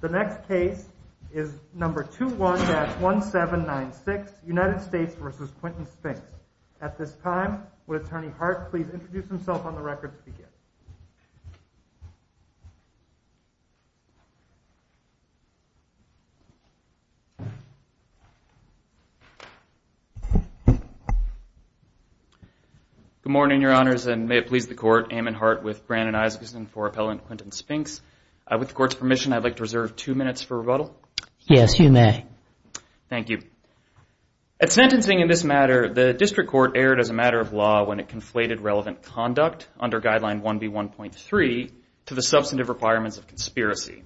The next case is number 21-1796, United States v. Quentin Spinks. At this time, would Attorney Hart please introduce himself on the record to begin? Good morning, Your Honors, and may it please the Court, Eamon Hart with Brandon Isaacson for Appellant Quentin Spinks. With the Court's permission, I'd like to reserve two minutes for rebuttal. Yes, you may. Thank you. At sentencing in this matter, the District Court erred as a matter of law when it conflated relevant conduct under Guideline 1B1.3 to the substantive requirements of conspiracy.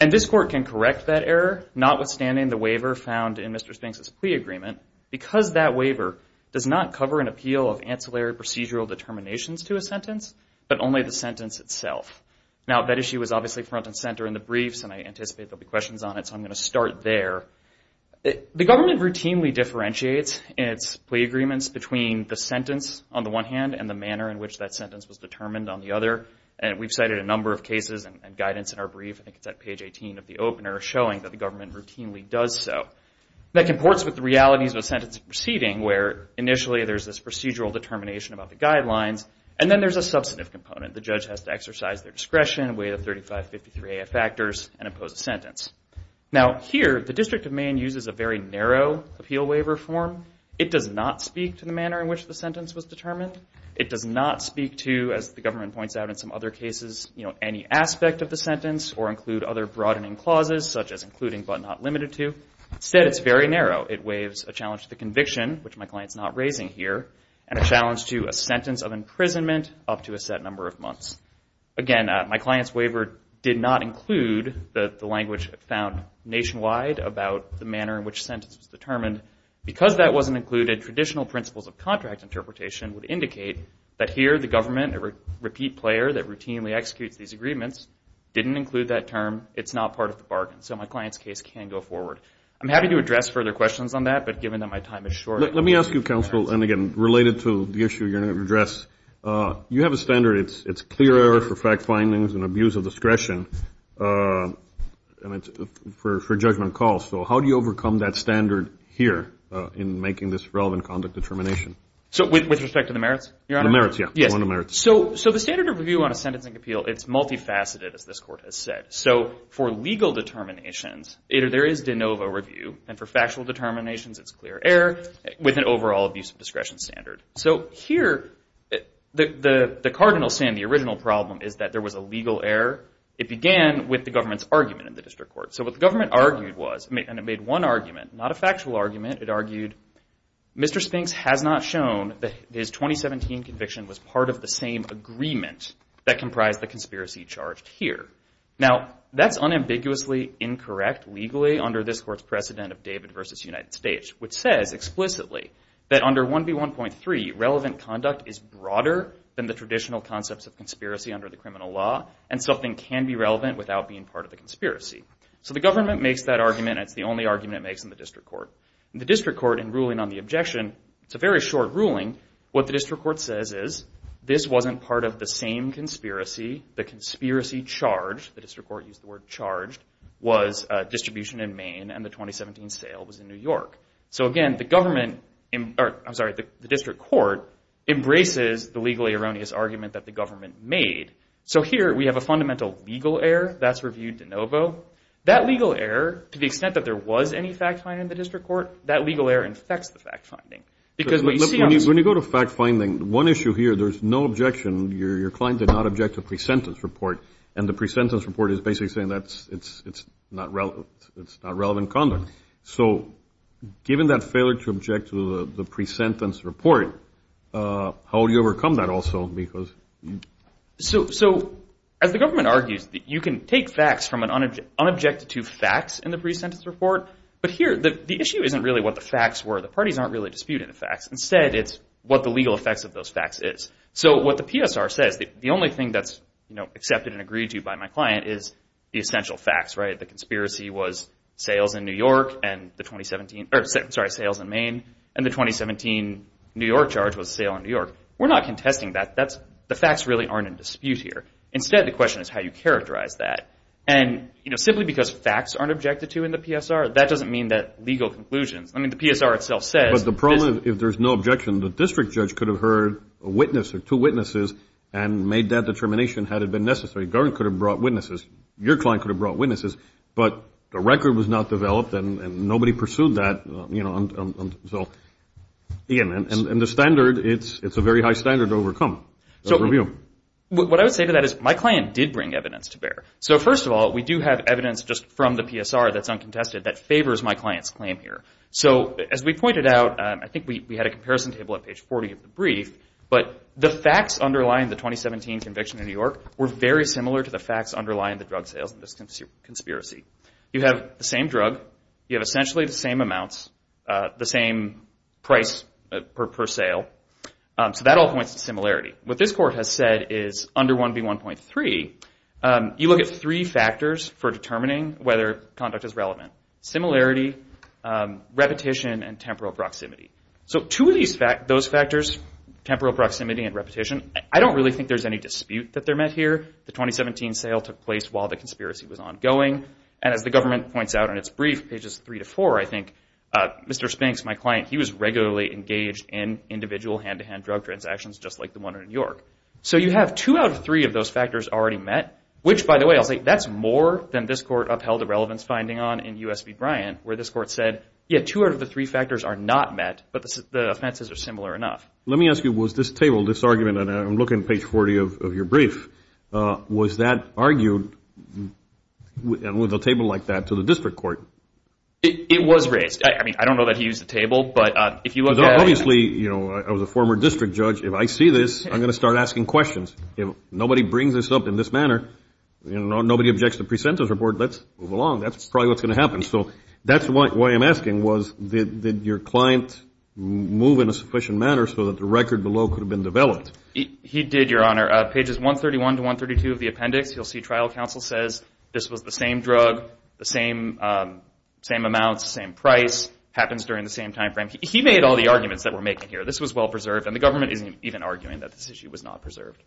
And this Court can correct that error, notwithstanding the waiver found in Mr. Spinks' plea agreement, because that waiver does not cover an appeal of ancillary procedural determinations to a sentence, but only the sentence itself. Now, that issue was obviously front and center in the briefs, and I anticipate there will be questions on it, so I'm going to start there. The government routinely differentiates its plea agreements between the sentence on the one hand and the manner in which that sentence was determined on the other. We've cited a number of cases and guidance in our brief, I think it's at page 18 of the opener, showing that the government routinely does so. That comports with the realities of a sentence proceeding, where initially there's this procedural determination about the guidelines, and then there's a substantive component. The judge has to exercise their discretion, weigh the 3553AF factors, and impose a sentence. Now, here, the District of Maine uses a very narrow appeal waiver form. It does not speak to the manner in which the sentence was determined. It does not speak to, as the government points out in some other cases, any aspect of the sentence or include other broadening clauses, such as including but not limited to. Instead, it's very narrow. It waives a challenge to the conviction, which my client's not raising here, and a challenge to a sentence of imprisonment up to a set number of months. Again, my client's waiver did not include the language found nationwide about the manner in which sentence was determined. Because that wasn't included, traditional principles of contract interpretation would indicate that here the government, a repeat player that routinely executes these agreements, didn't include that term. It's not part of the bargain, so my client's case can go forward. I'm happy to address further questions on that, but given that my time is short. Let me ask you, counsel, and again, related to the issue you're going to address. You have a standard. It's clear error for fact findings and abuse of discretion for judgment calls. So how do you overcome that standard here in making this relevant conduct determination? With respect to the merits, Your Honor? The merits, yeah. Go on to merits. So the standard of review on a sentencing appeal, it's multifaceted, as this court has said. So for legal determinations, there is de novo review, and for factual determinations, it's clear error with an overall abuse of discretion standard. So here, the cardinal saying the original problem is that there was a legal error. It began with the government's argument in the district court. So what the government argued was, and it made one argument, not a factual argument, it argued Mr. Spinks has not shown that his 2017 conviction was part of the same agreement that comprised the conspiracy charged here. Now, that's unambiguously incorrect legally under this court's precedent of David versus United States, which says explicitly that under 1B1.3, relevant conduct is broader than the traditional concepts of conspiracy under the criminal law, and something can be relevant without being part of the conspiracy. So the government makes that argument, and it's the only argument it makes in the district court. In the district court, in ruling on the objection, it's a very short ruling. What the district court says is, this wasn't part of the same conspiracy. The conspiracy charged, the district court used the word charged, was distribution in Maine, and the 2017 sale was in New York. So again, the district court embraces the legally erroneous argument that the government made. So here, we have a fundamental legal error that's reviewed de novo. That legal error, to the extent that there was any fact finding in the district court, that legal error infects the fact finding. When you go to fact finding, one issue here, there's no objection. Your client did not object to a pre-sentence report, and the pre-sentence report is basically saying it's not relevant conduct. So given that failure to object to the pre-sentence report, how do you overcome that also? So as the government argues, you can take facts from an unobjected to facts in the pre-sentence report, but here the issue isn't really what the facts were. The parties aren't really disputing the facts. Instead, it's what the legal effects of those facts is. So what the PSR says, the only thing that's accepted and agreed to by my client is the essential facts. The conspiracy was sales in Maine, and the 2017 New York charge was a sale in New York. We're not contesting that. The facts really aren't in dispute here. Instead, the question is how you characterize that. And simply because facts aren't objected to in the PSR, that doesn't mean that legal conclusions, I mean the PSR itself says. But the problem is if there's no objection, the district judge could have heard a witness or two witnesses and made that determination had it been necessary. The government could have brought witnesses. Your client could have brought witnesses, but the record was not developed, and nobody pursued that. So again, and the standard, it's a very high standard to overcome. What I would say to that is my client did bring evidence to bear. So first of all, we do have evidence just from the PSR that's uncontested that favors my client's claim here. So as we pointed out, I think we had a comparison table at page 40 of the brief, but the facts underlying the 2017 conviction in New York were very similar to the facts underlying the drug sales in this conspiracy. You have the same drug. You have essentially the same amounts, the same price per sale. So that all points to similarity. What this court has said is under 1B1.3, you look at three factors for determining whether conduct is relevant, similarity, repetition, and temporal proximity. So two of those factors, temporal proximity and repetition, I don't really think there's any dispute that they're met here. The 2017 sale took place while the conspiracy was ongoing. And as the government points out in its brief, pages 3 to 4, I think Mr. Spinks, my client, he was regularly engaged in individual hand-to-hand drug transactions just like the one in New York. So you have two out of three of those factors already met, which, by the way, I'll say that's more than this court upheld a relevance finding on in U.S. v. Bryant, where this court said, yeah, two out of the three factors are not met, but the offenses are similar enough. Let me ask you, was this table, this argument, and I'm looking at page 40 of your brief, was that argued with a table like that to the district court? It was raised. I mean, I don't know that he used the table, but if you look at it. Obviously, you know, I was a former district judge. If I see this, I'm going to start asking questions. If nobody brings this up in this manner, you know, nobody objects to the pre-sentence report, let's move along. That's probably what's going to happen. So that's why I'm asking was did your client move in a sufficient manner so that the record below could have been developed? He did, Your Honor. Pages 131 to 132 of the appendix, you'll see trial counsel says this was the same drug, the same amounts, the same price, happens during the same time frame. He made all the arguments that we're making here. This was well preserved, and the government isn't even arguing that this issue was not preserved.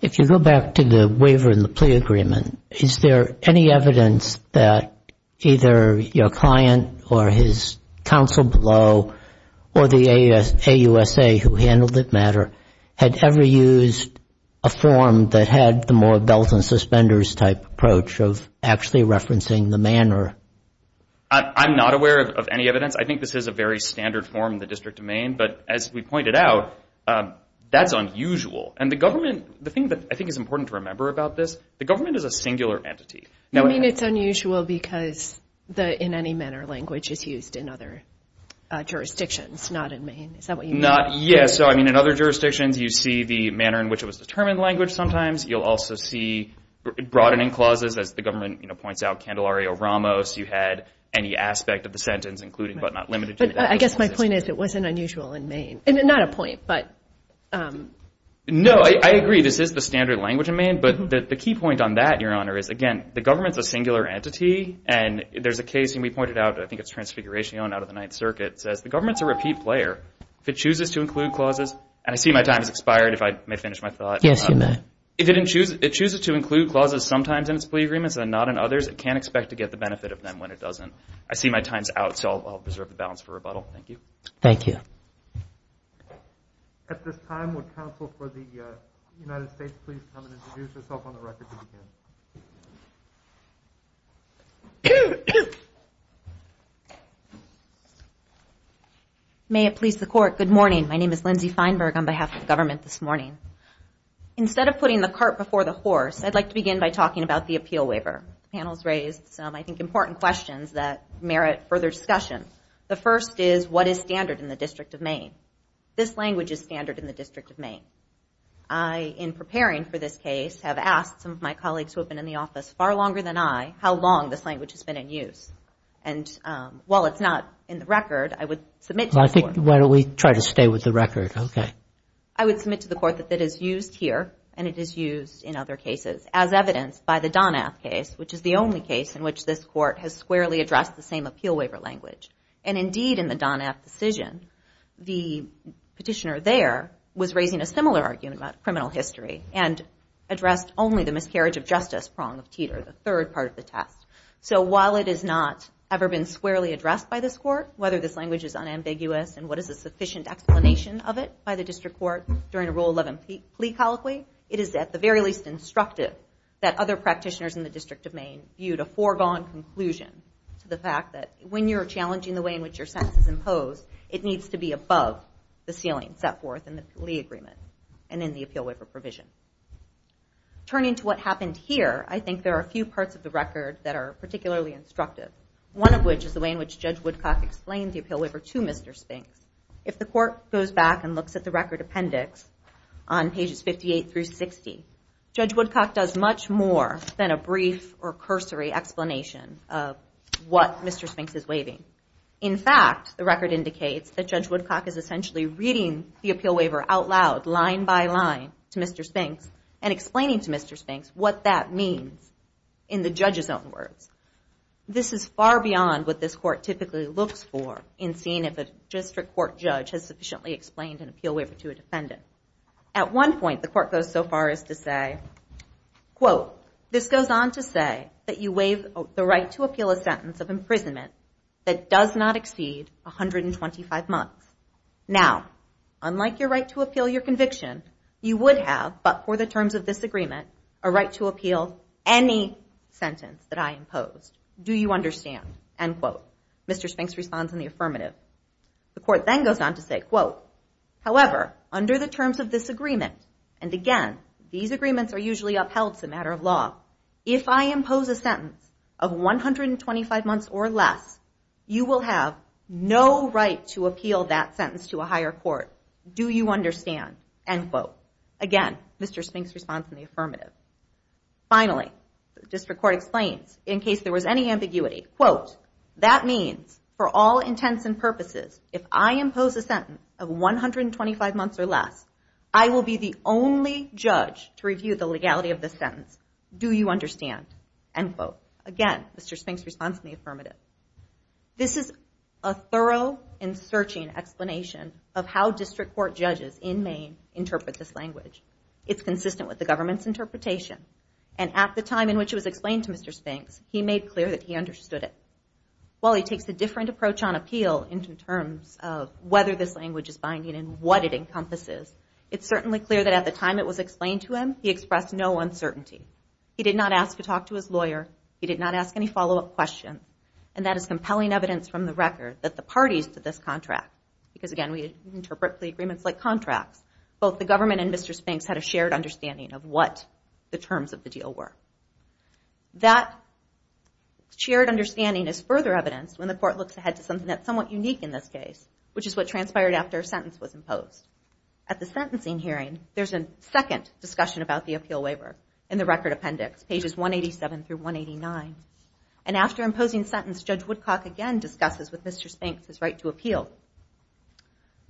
If you go back to the waiver and the plea agreement, is there any evidence that either your client or his counsel below or the AUSA who handled it better had ever used a form that had the more belt and suspenders type approach of actually referencing the manner? I'm not aware of any evidence. I think this is a very standard form in the District of Maine, but as we pointed out, that's unusual. And the government, the thing that I think is important to remember about this, the government is a singular entity. You mean it's unusual because the in any manner language is used in other jurisdictions, not in Maine. Is that what you mean? Yes. So, I mean, in other jurisdictions, you see the manner in which it was determined language sometimes. You'll also see broadening clauses, as the government points out, Candelario Ramos, you had any aspect of the sentence including but not limited to that. But I guess my point is it wasn't unusual in Maine. Not a point, but. No, I agree. This is the standard language in Maine. But the key point on that, Your Honor, is, again, the government's a singular entity. And there's a case, and we pointed out, I think it's Transfiguration out of the Ninth Circuit, says the government's a repeat player. If it chooses to include clauses, and I see my time has expired, if I may finish my thought. Yes, you may. If it chooses to include clauses sometimes in its plea agreements and not in others, it can't expect to get the benefit of them when it doesn't. I see my time's out, so I'll preserve the balance for rebuttal. Thank you. Thank you. At this time, would counsel for the United States please come and introduce yourself on the record to begin. May it please the Court, good morning. My name is Lindsay Feinberg on behalf of the government this morning. Instead of putting the cart before the horse, I'd like to begin by talking about the appeal waiver. The panel's raised some, I think, important questions that merit further discussion. The first is, what is standard in the District of Maine? This language is standard in the District of Maine. I, in preparing for this case, have asked some of my colleagues who have been in the office far longer than I how long this language has been in use. And while it's not in the record, I would submit to the Court. Well, I think, why don't we try to stay with the record. Okay. I would submit to the Court that it is used here, and it is used in other cases, as evidenced by the Donath case, which is the only case in which this Court has squarely addressed the same appeal waiver language. And indeed, in the Donath decision, the petitioner there was raising a similar argument about criminal history and addressed only the miscarriage of justice prong of Teeter, the third part of the test. So while it has not ever been squarely addressed by this Court, whether this language is unambiguous and what is a sufficient explanation of it by the District Court during a Rule 11 plea colloquy, it is at the very least instructive that other practitioners in the District of Maine viewed a foregone conclusion to the fact that when you're challenging the way in which your sentence is imposed, it needs to be above the ceiling set forth in the plea agreement and in the appeal waiver provision. Turning to what happened here, I think there are a few parts of the record that are particularly instructive, one of which is the way in which Judge Woodcock explained the appeal waiver to Mr. Spinks. If the Court goes back and looks at the record appendix on pages 58 through 60, Judge Woodcock does much more than a brief or cursory explanation of what Mr. Spinks is waiving. In fact, the record indicates that Judge Woodcock is essentially reading the appeal waiver out loud, line by line, to Mr. Spinks and explaining to Mr. Spinks what that means in the judge's own words. This is far beyond what this Court typically looks for in seeing if a District Court judge has sufficiently explained an appeal waiver to a defendant. At one point, the Court goes so far as to say, this goes on to say that you waive the right to appeal a sentence of imprisonment that does not exceed 125 months. Now, unlike your right to appeal your conviction, you would have, but for the terms of this agreement, a right to appeal any sentence that I impose. Do you understand? End quote. Mr. Spinks responds in the affirmative. The Court then goes on to say, quote, however, under the terms of this agreement, and again, these agreements are usually upheld as a matter of law, if I impose a sentence of 125 months or less, you will have no right to appeal that sentence to a higher court. Do you understand? End quote. Again, Mr. Spinks responds in the affirmative. Finally, the District Court explains, in case there was any ambiguity, quote, that means for all intents and purposes, if I impose a sentence of 125 months or less, I will be the only judge to review the legality of the sentence. Do you understand? End quote. Again, Mr. Spinks responds in the affirmative. This is a thorough and searching explanation of how District Court judges in Maine interpret this language. It's consistent with the government's interpretation, and at the time in which it was explained to Mr. Spinks, he made clear that he understood it. While he takes a different approach on appeal in terms of whether this language is binding and what it encompasses, it's certainly clear that at the time it was explained to him, he expressed no uncertainty. He did not ask to talk to his lawyer. He did not ask any follow-up questions. And that is compelling evidence from the record that the parties to this contract, because, again, we interpret plea agreements like contracts, both the government and Mr. Spinks had a shared understanding of what the terms of the deal were. That shared understanding is further evidenced when the court looks ahead to something that's somewhat unique in this case, which is what transpired after a sentence was imposed. At the sentencing hearing, there's a second discussion about the appeal waiver in the record appendix, pages 187 through 189. And after imposing sentence, Judge Woodcock again discusses with Mr. Spinks his right to appeal.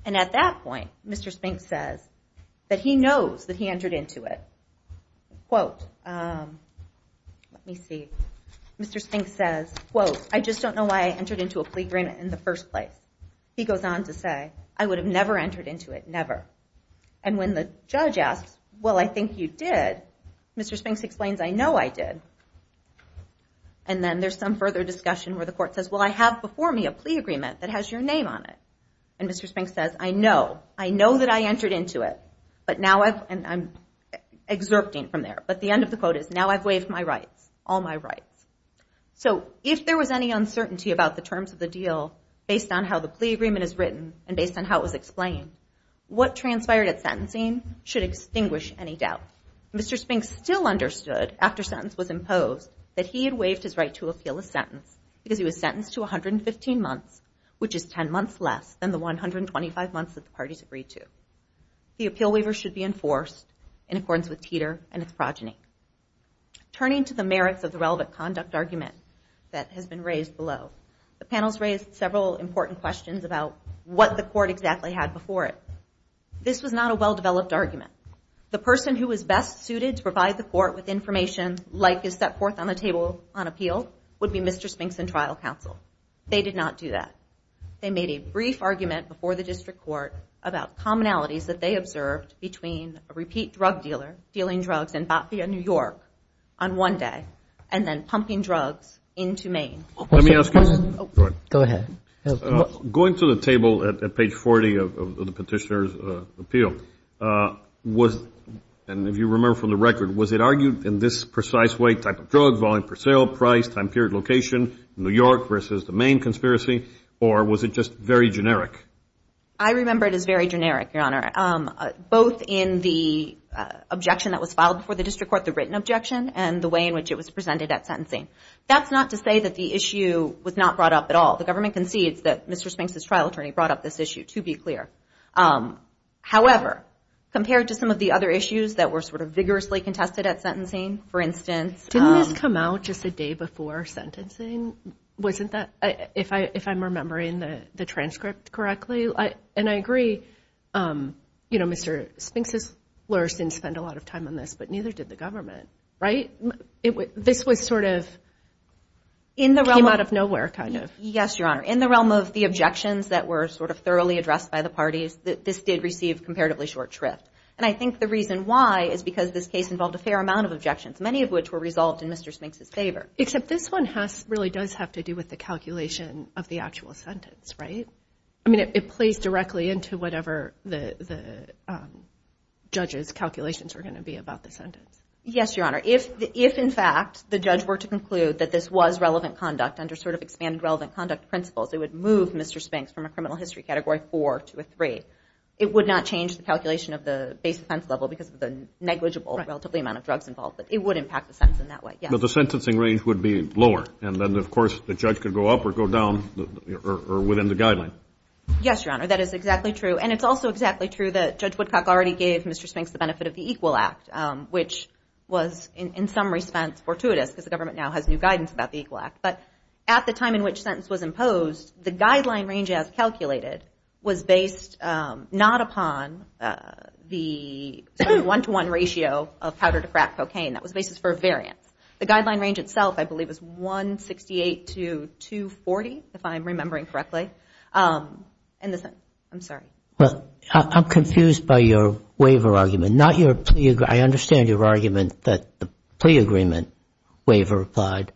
And at that point, Mr. Spinks says that he knows that he entered into it. Quote, let me see, Mr. Spinks says, quote, I just don't know why I entered into a plea agreement in the first place. He goes on to say, I would have never entered into it, never. And when the judge asks, well, I think you did, Mr. Spinks explains, I know I did. And then there's some further discussion where the court says, well, I have before me a plea agreement that has your name on it. And Mr. Spinks says, I know, I know that I entered into it, but now I've, and I'm exerpting from there. But the end of the quote is, now I've waived my rights, all my rights. So if there was any uncertainty about the terms of the deal, based on how the plea agreement is written, and based on how it was explained, what transpired at sentencing should extinguish any doubt. Mr. Spinks still understood, after sentence was imposed, that he had waived his right to appeal a sentence, because he was sentenced to 115 months, which is 10 months less than the 125 months that the parties agreed to. The appeal waiver should be enforced in accordance with Teeter and its progeny. Turning to the merits of the relevant conduct argument that has been raised below, the panel's raised several important questions about what the court exactly had before it. This was not a well-developed argument. The person who was best suited to provide the court with information like is set forth on the table on appeal would be Mr. Spinks and trial counsel. They did not do that. They made a brief argument before the district court about commonalities that they observed between a repeat drug dealer, dealing drugs in Batavia, New York, on one day, and then pumping drugs into Maine. Let me ask you something. Go ahead. Going to the table at page 40 of the petitioner's appeal, was, and if you remember from the record, was it argued in this precise way, type of drug, volume per sale, price, time period, location, New York versus the Maine conspiracy, or was it just very generic? I remember it as very generic, Your Honor. Both in the objection that was filed before the district court, the written objection, and the way in which it was presented at sentencing. That's not to say that the issue was not brought up at all. The government concedes that Mr. Spinks' trial attorney brought up this issue, to be clear. However, compared to some of the other issues that were sort of vigorously contested at sentencing, for instance. Didn't this come out just a day before sentencing? Wasn't that, if I'm remembering the transcript correctly? And I agree, you know, Mr. Spinks' lawyers didn't spend a lot of time on this, but neither did the government, right? This was sort of came out of nowhere, kind of. Yes, Your Honor. In the realm of the objections that were sort of thoroughly addressed by the parties, this did receive comparatively short shrift. And I think the reason why is because this case involved a fair amount of objections, many of which were resolved in Mr. Spinks' favor. Except this one really does have to do with the calculation of the actual sentence, right? I mean, it plays directly into whatever the judge's calculations are going to be about the sentence. Yes, Your Honor. If, in fact, the judge were to conclude that this was relevant conduct under sort of expanded relevant conduct principles, it would move Mr. Spinks from a criminal history Category 4 to a 3. It would not change the calculation of the base offense level because of the negligible relatively amount of drugs involved, but it would impact the sentence in that way, yes. But the sentencing range would be lower, and then, of course, the judge could go up or go down or within the guideline. Yes, Your Honor. That is exactly true. And it's also exactly true that Judge Woodcock already gave Mr. Spinks the benefit of the Equal Act, which was in some respects fortuitous because the government now has new guidance about the Equal Act. But at the time in which sentence was imposed, the guideline range, as calculated, was based not upon the one-to-one ratio of powder to crack cocaine. That was based for a variance. The guideline range itself, I believe, was 168 to 240, if I'm remembering correctly. I'm sorry. Well, I'm confused by your waiver argument, not your plea. I understand your argument that the plea agreement waiver applied,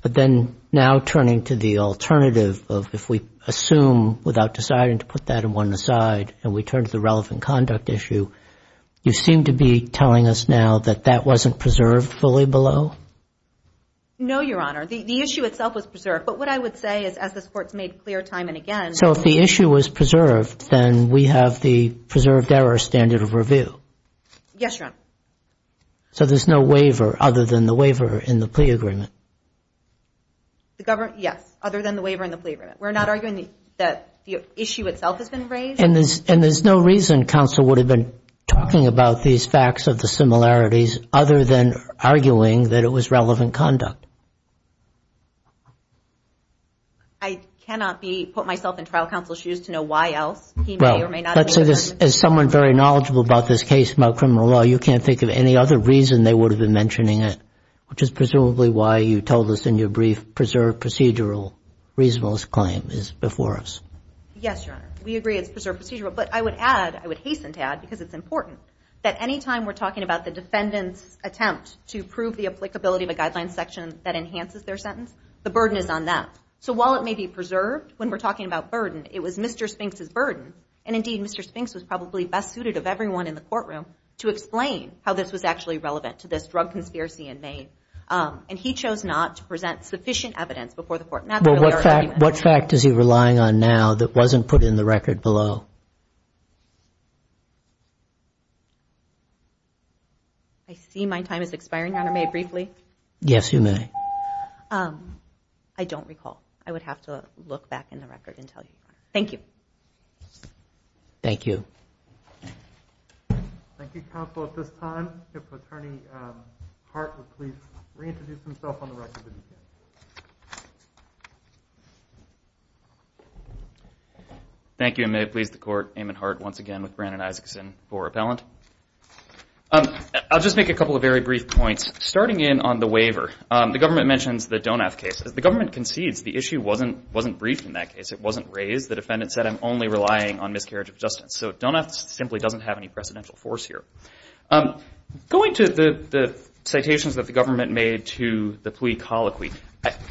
but then now turning to the alternative of if we assume without deciding to put that one aside and we turn to the relevant conduct issue, you seem to be telling us now that that wasn't preserved fully below? No, Your Honor. The issue itself was preserved. But what I would say is as this Court's made clear time and again. So if the issue was preserved, then we have the preserved error standard of review? Yes, Your Honor. So there's no waiver other than the waiver in the plea agreement? Yes, other than the waiver in the plea agreement. We're not arguing that the issue itself has been raised. And there's no reason counsel would have been talking about these facts of the similarities other than arguing that it was relevant conduct? I cannot put myself in trial counsel's shoes to know why else he may or may not have made a judgment. Well, as someone very knowledgeable about this case, about criminal law, you can't think of any other reason they would have been mentioning it, which is presumably why you told us in your brief preserved procedural reasonableness claim is before us. Yes, Your Honor. We agree it's preserved procedural. But I would add, I would hasten to add because it's important, that any time we're talking about the defendant's attempt to prove the applicability of a guideline section that enhances their sentence, the burden is on them. So while it may be preserved when we're talking about burden, it was Mr. Spinks' burden, and indeed Mr. Spinks was probably best suited of everyone in the courtroom to explain how this was actually relevant to this drug conspiracy in Maine. And he chose not to present sufficient evidence before the Court. Well, what fact is he relying on now that wasn't put in the record below? I see my time is expiring, Your Honor. May I briefly? Yes, you may. I don't recall. I would have to look back in the record and tell you. Thank you. Thank you. Thank you, counsel. At this time, if Attorney Hart would please reintroduce himself on the record. Thank you, and may it please the Court, Eamon Hart once again with Brandon Isaacson for appellant. I'll just make a couple of very brief points. Starting in on the waiver, the government mentions the Donath case. As the government concedes, the issue wasn't briefed in that case. It wasn't raised. The defendant said, I'm only relying on miscarriage of justice. So Donath simply doesn't have any presidential force here. Going to the citations that the government made to the plea colloquy,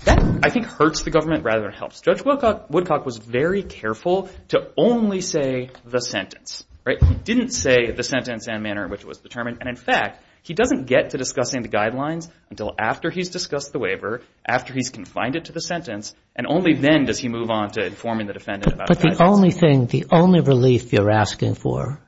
that, I think, hurts the government rather than helps. Judge Woodcock was very careful to only say the sentence. He didn't say the sentence and manner in which it was determined. And, in fact, he doesn't get to discussing the guidelines until after he's discussed the waiver, after he's confined it to the sentence, and only then does he move on to informing the defendant about it. But the only thing, the only relief you're asking for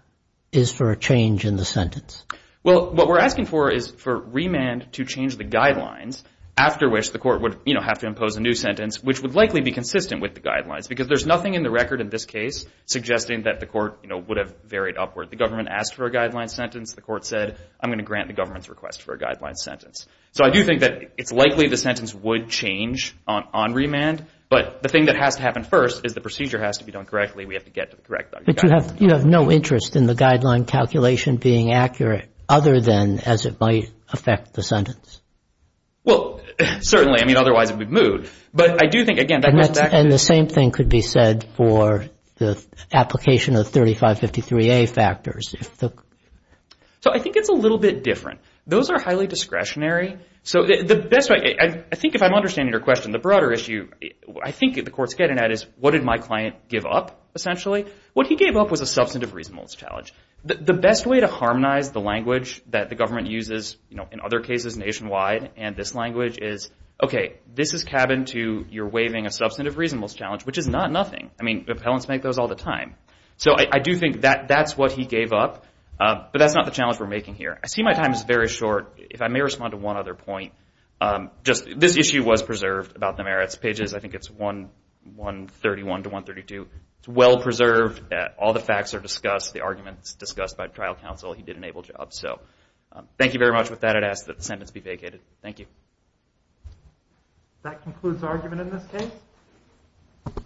is for a change in the sentence. Well, what we're asking for is for remand to change the guidelines, after which the court would, you know, have to impose a new sentence, which would likely be consistent with the guidelines, because there's nothing in the record in this case suggesting that the court, you know, would have varied upward. The government asked for a guideline sentence. The court said, I'm going to grant the government's request for a guideline sentence. So I do think that it's likely the sentence would change on remand. But the thing that has to happen first is the procedure has to be done correctly. We have to get to the correct guidelines. But you have no interest in the guideline calculation being accurate, other than as it might affect the sentence. Well, certainly. I mean, otherwise it would move. But I do think, again, that goes back to the... And the same thing could be said for the application of 3553A factors. So I think it's a little bit different. Those are highly discretionary. So the best way, I think if I'm understanding your question, the broader issue I think the court's getting at is what did my client give up, essentially? What he gave up was a substantive reasonableness challenge. The best way to harmonize the language that the government uses, you know, in other cases nationwide and this language is, okay, this is cabined to your waiving a substantive reasonableness challenge, which is not nothing. I mean, appellants make those all the time. So I do think that that's what he gave up. But that's not the challenge we're making here. I see my time is very short. If I may respond to one other point. This issue was preserved about the merits pages. I think it's 131 to 132. It's well preserved. All the facts are discussed. The argument is discussed by trial counsel. He did an able job. So thank you very much. With that, I'd ask that the sentence be vacated. Thank you. That concludes the argument in this case.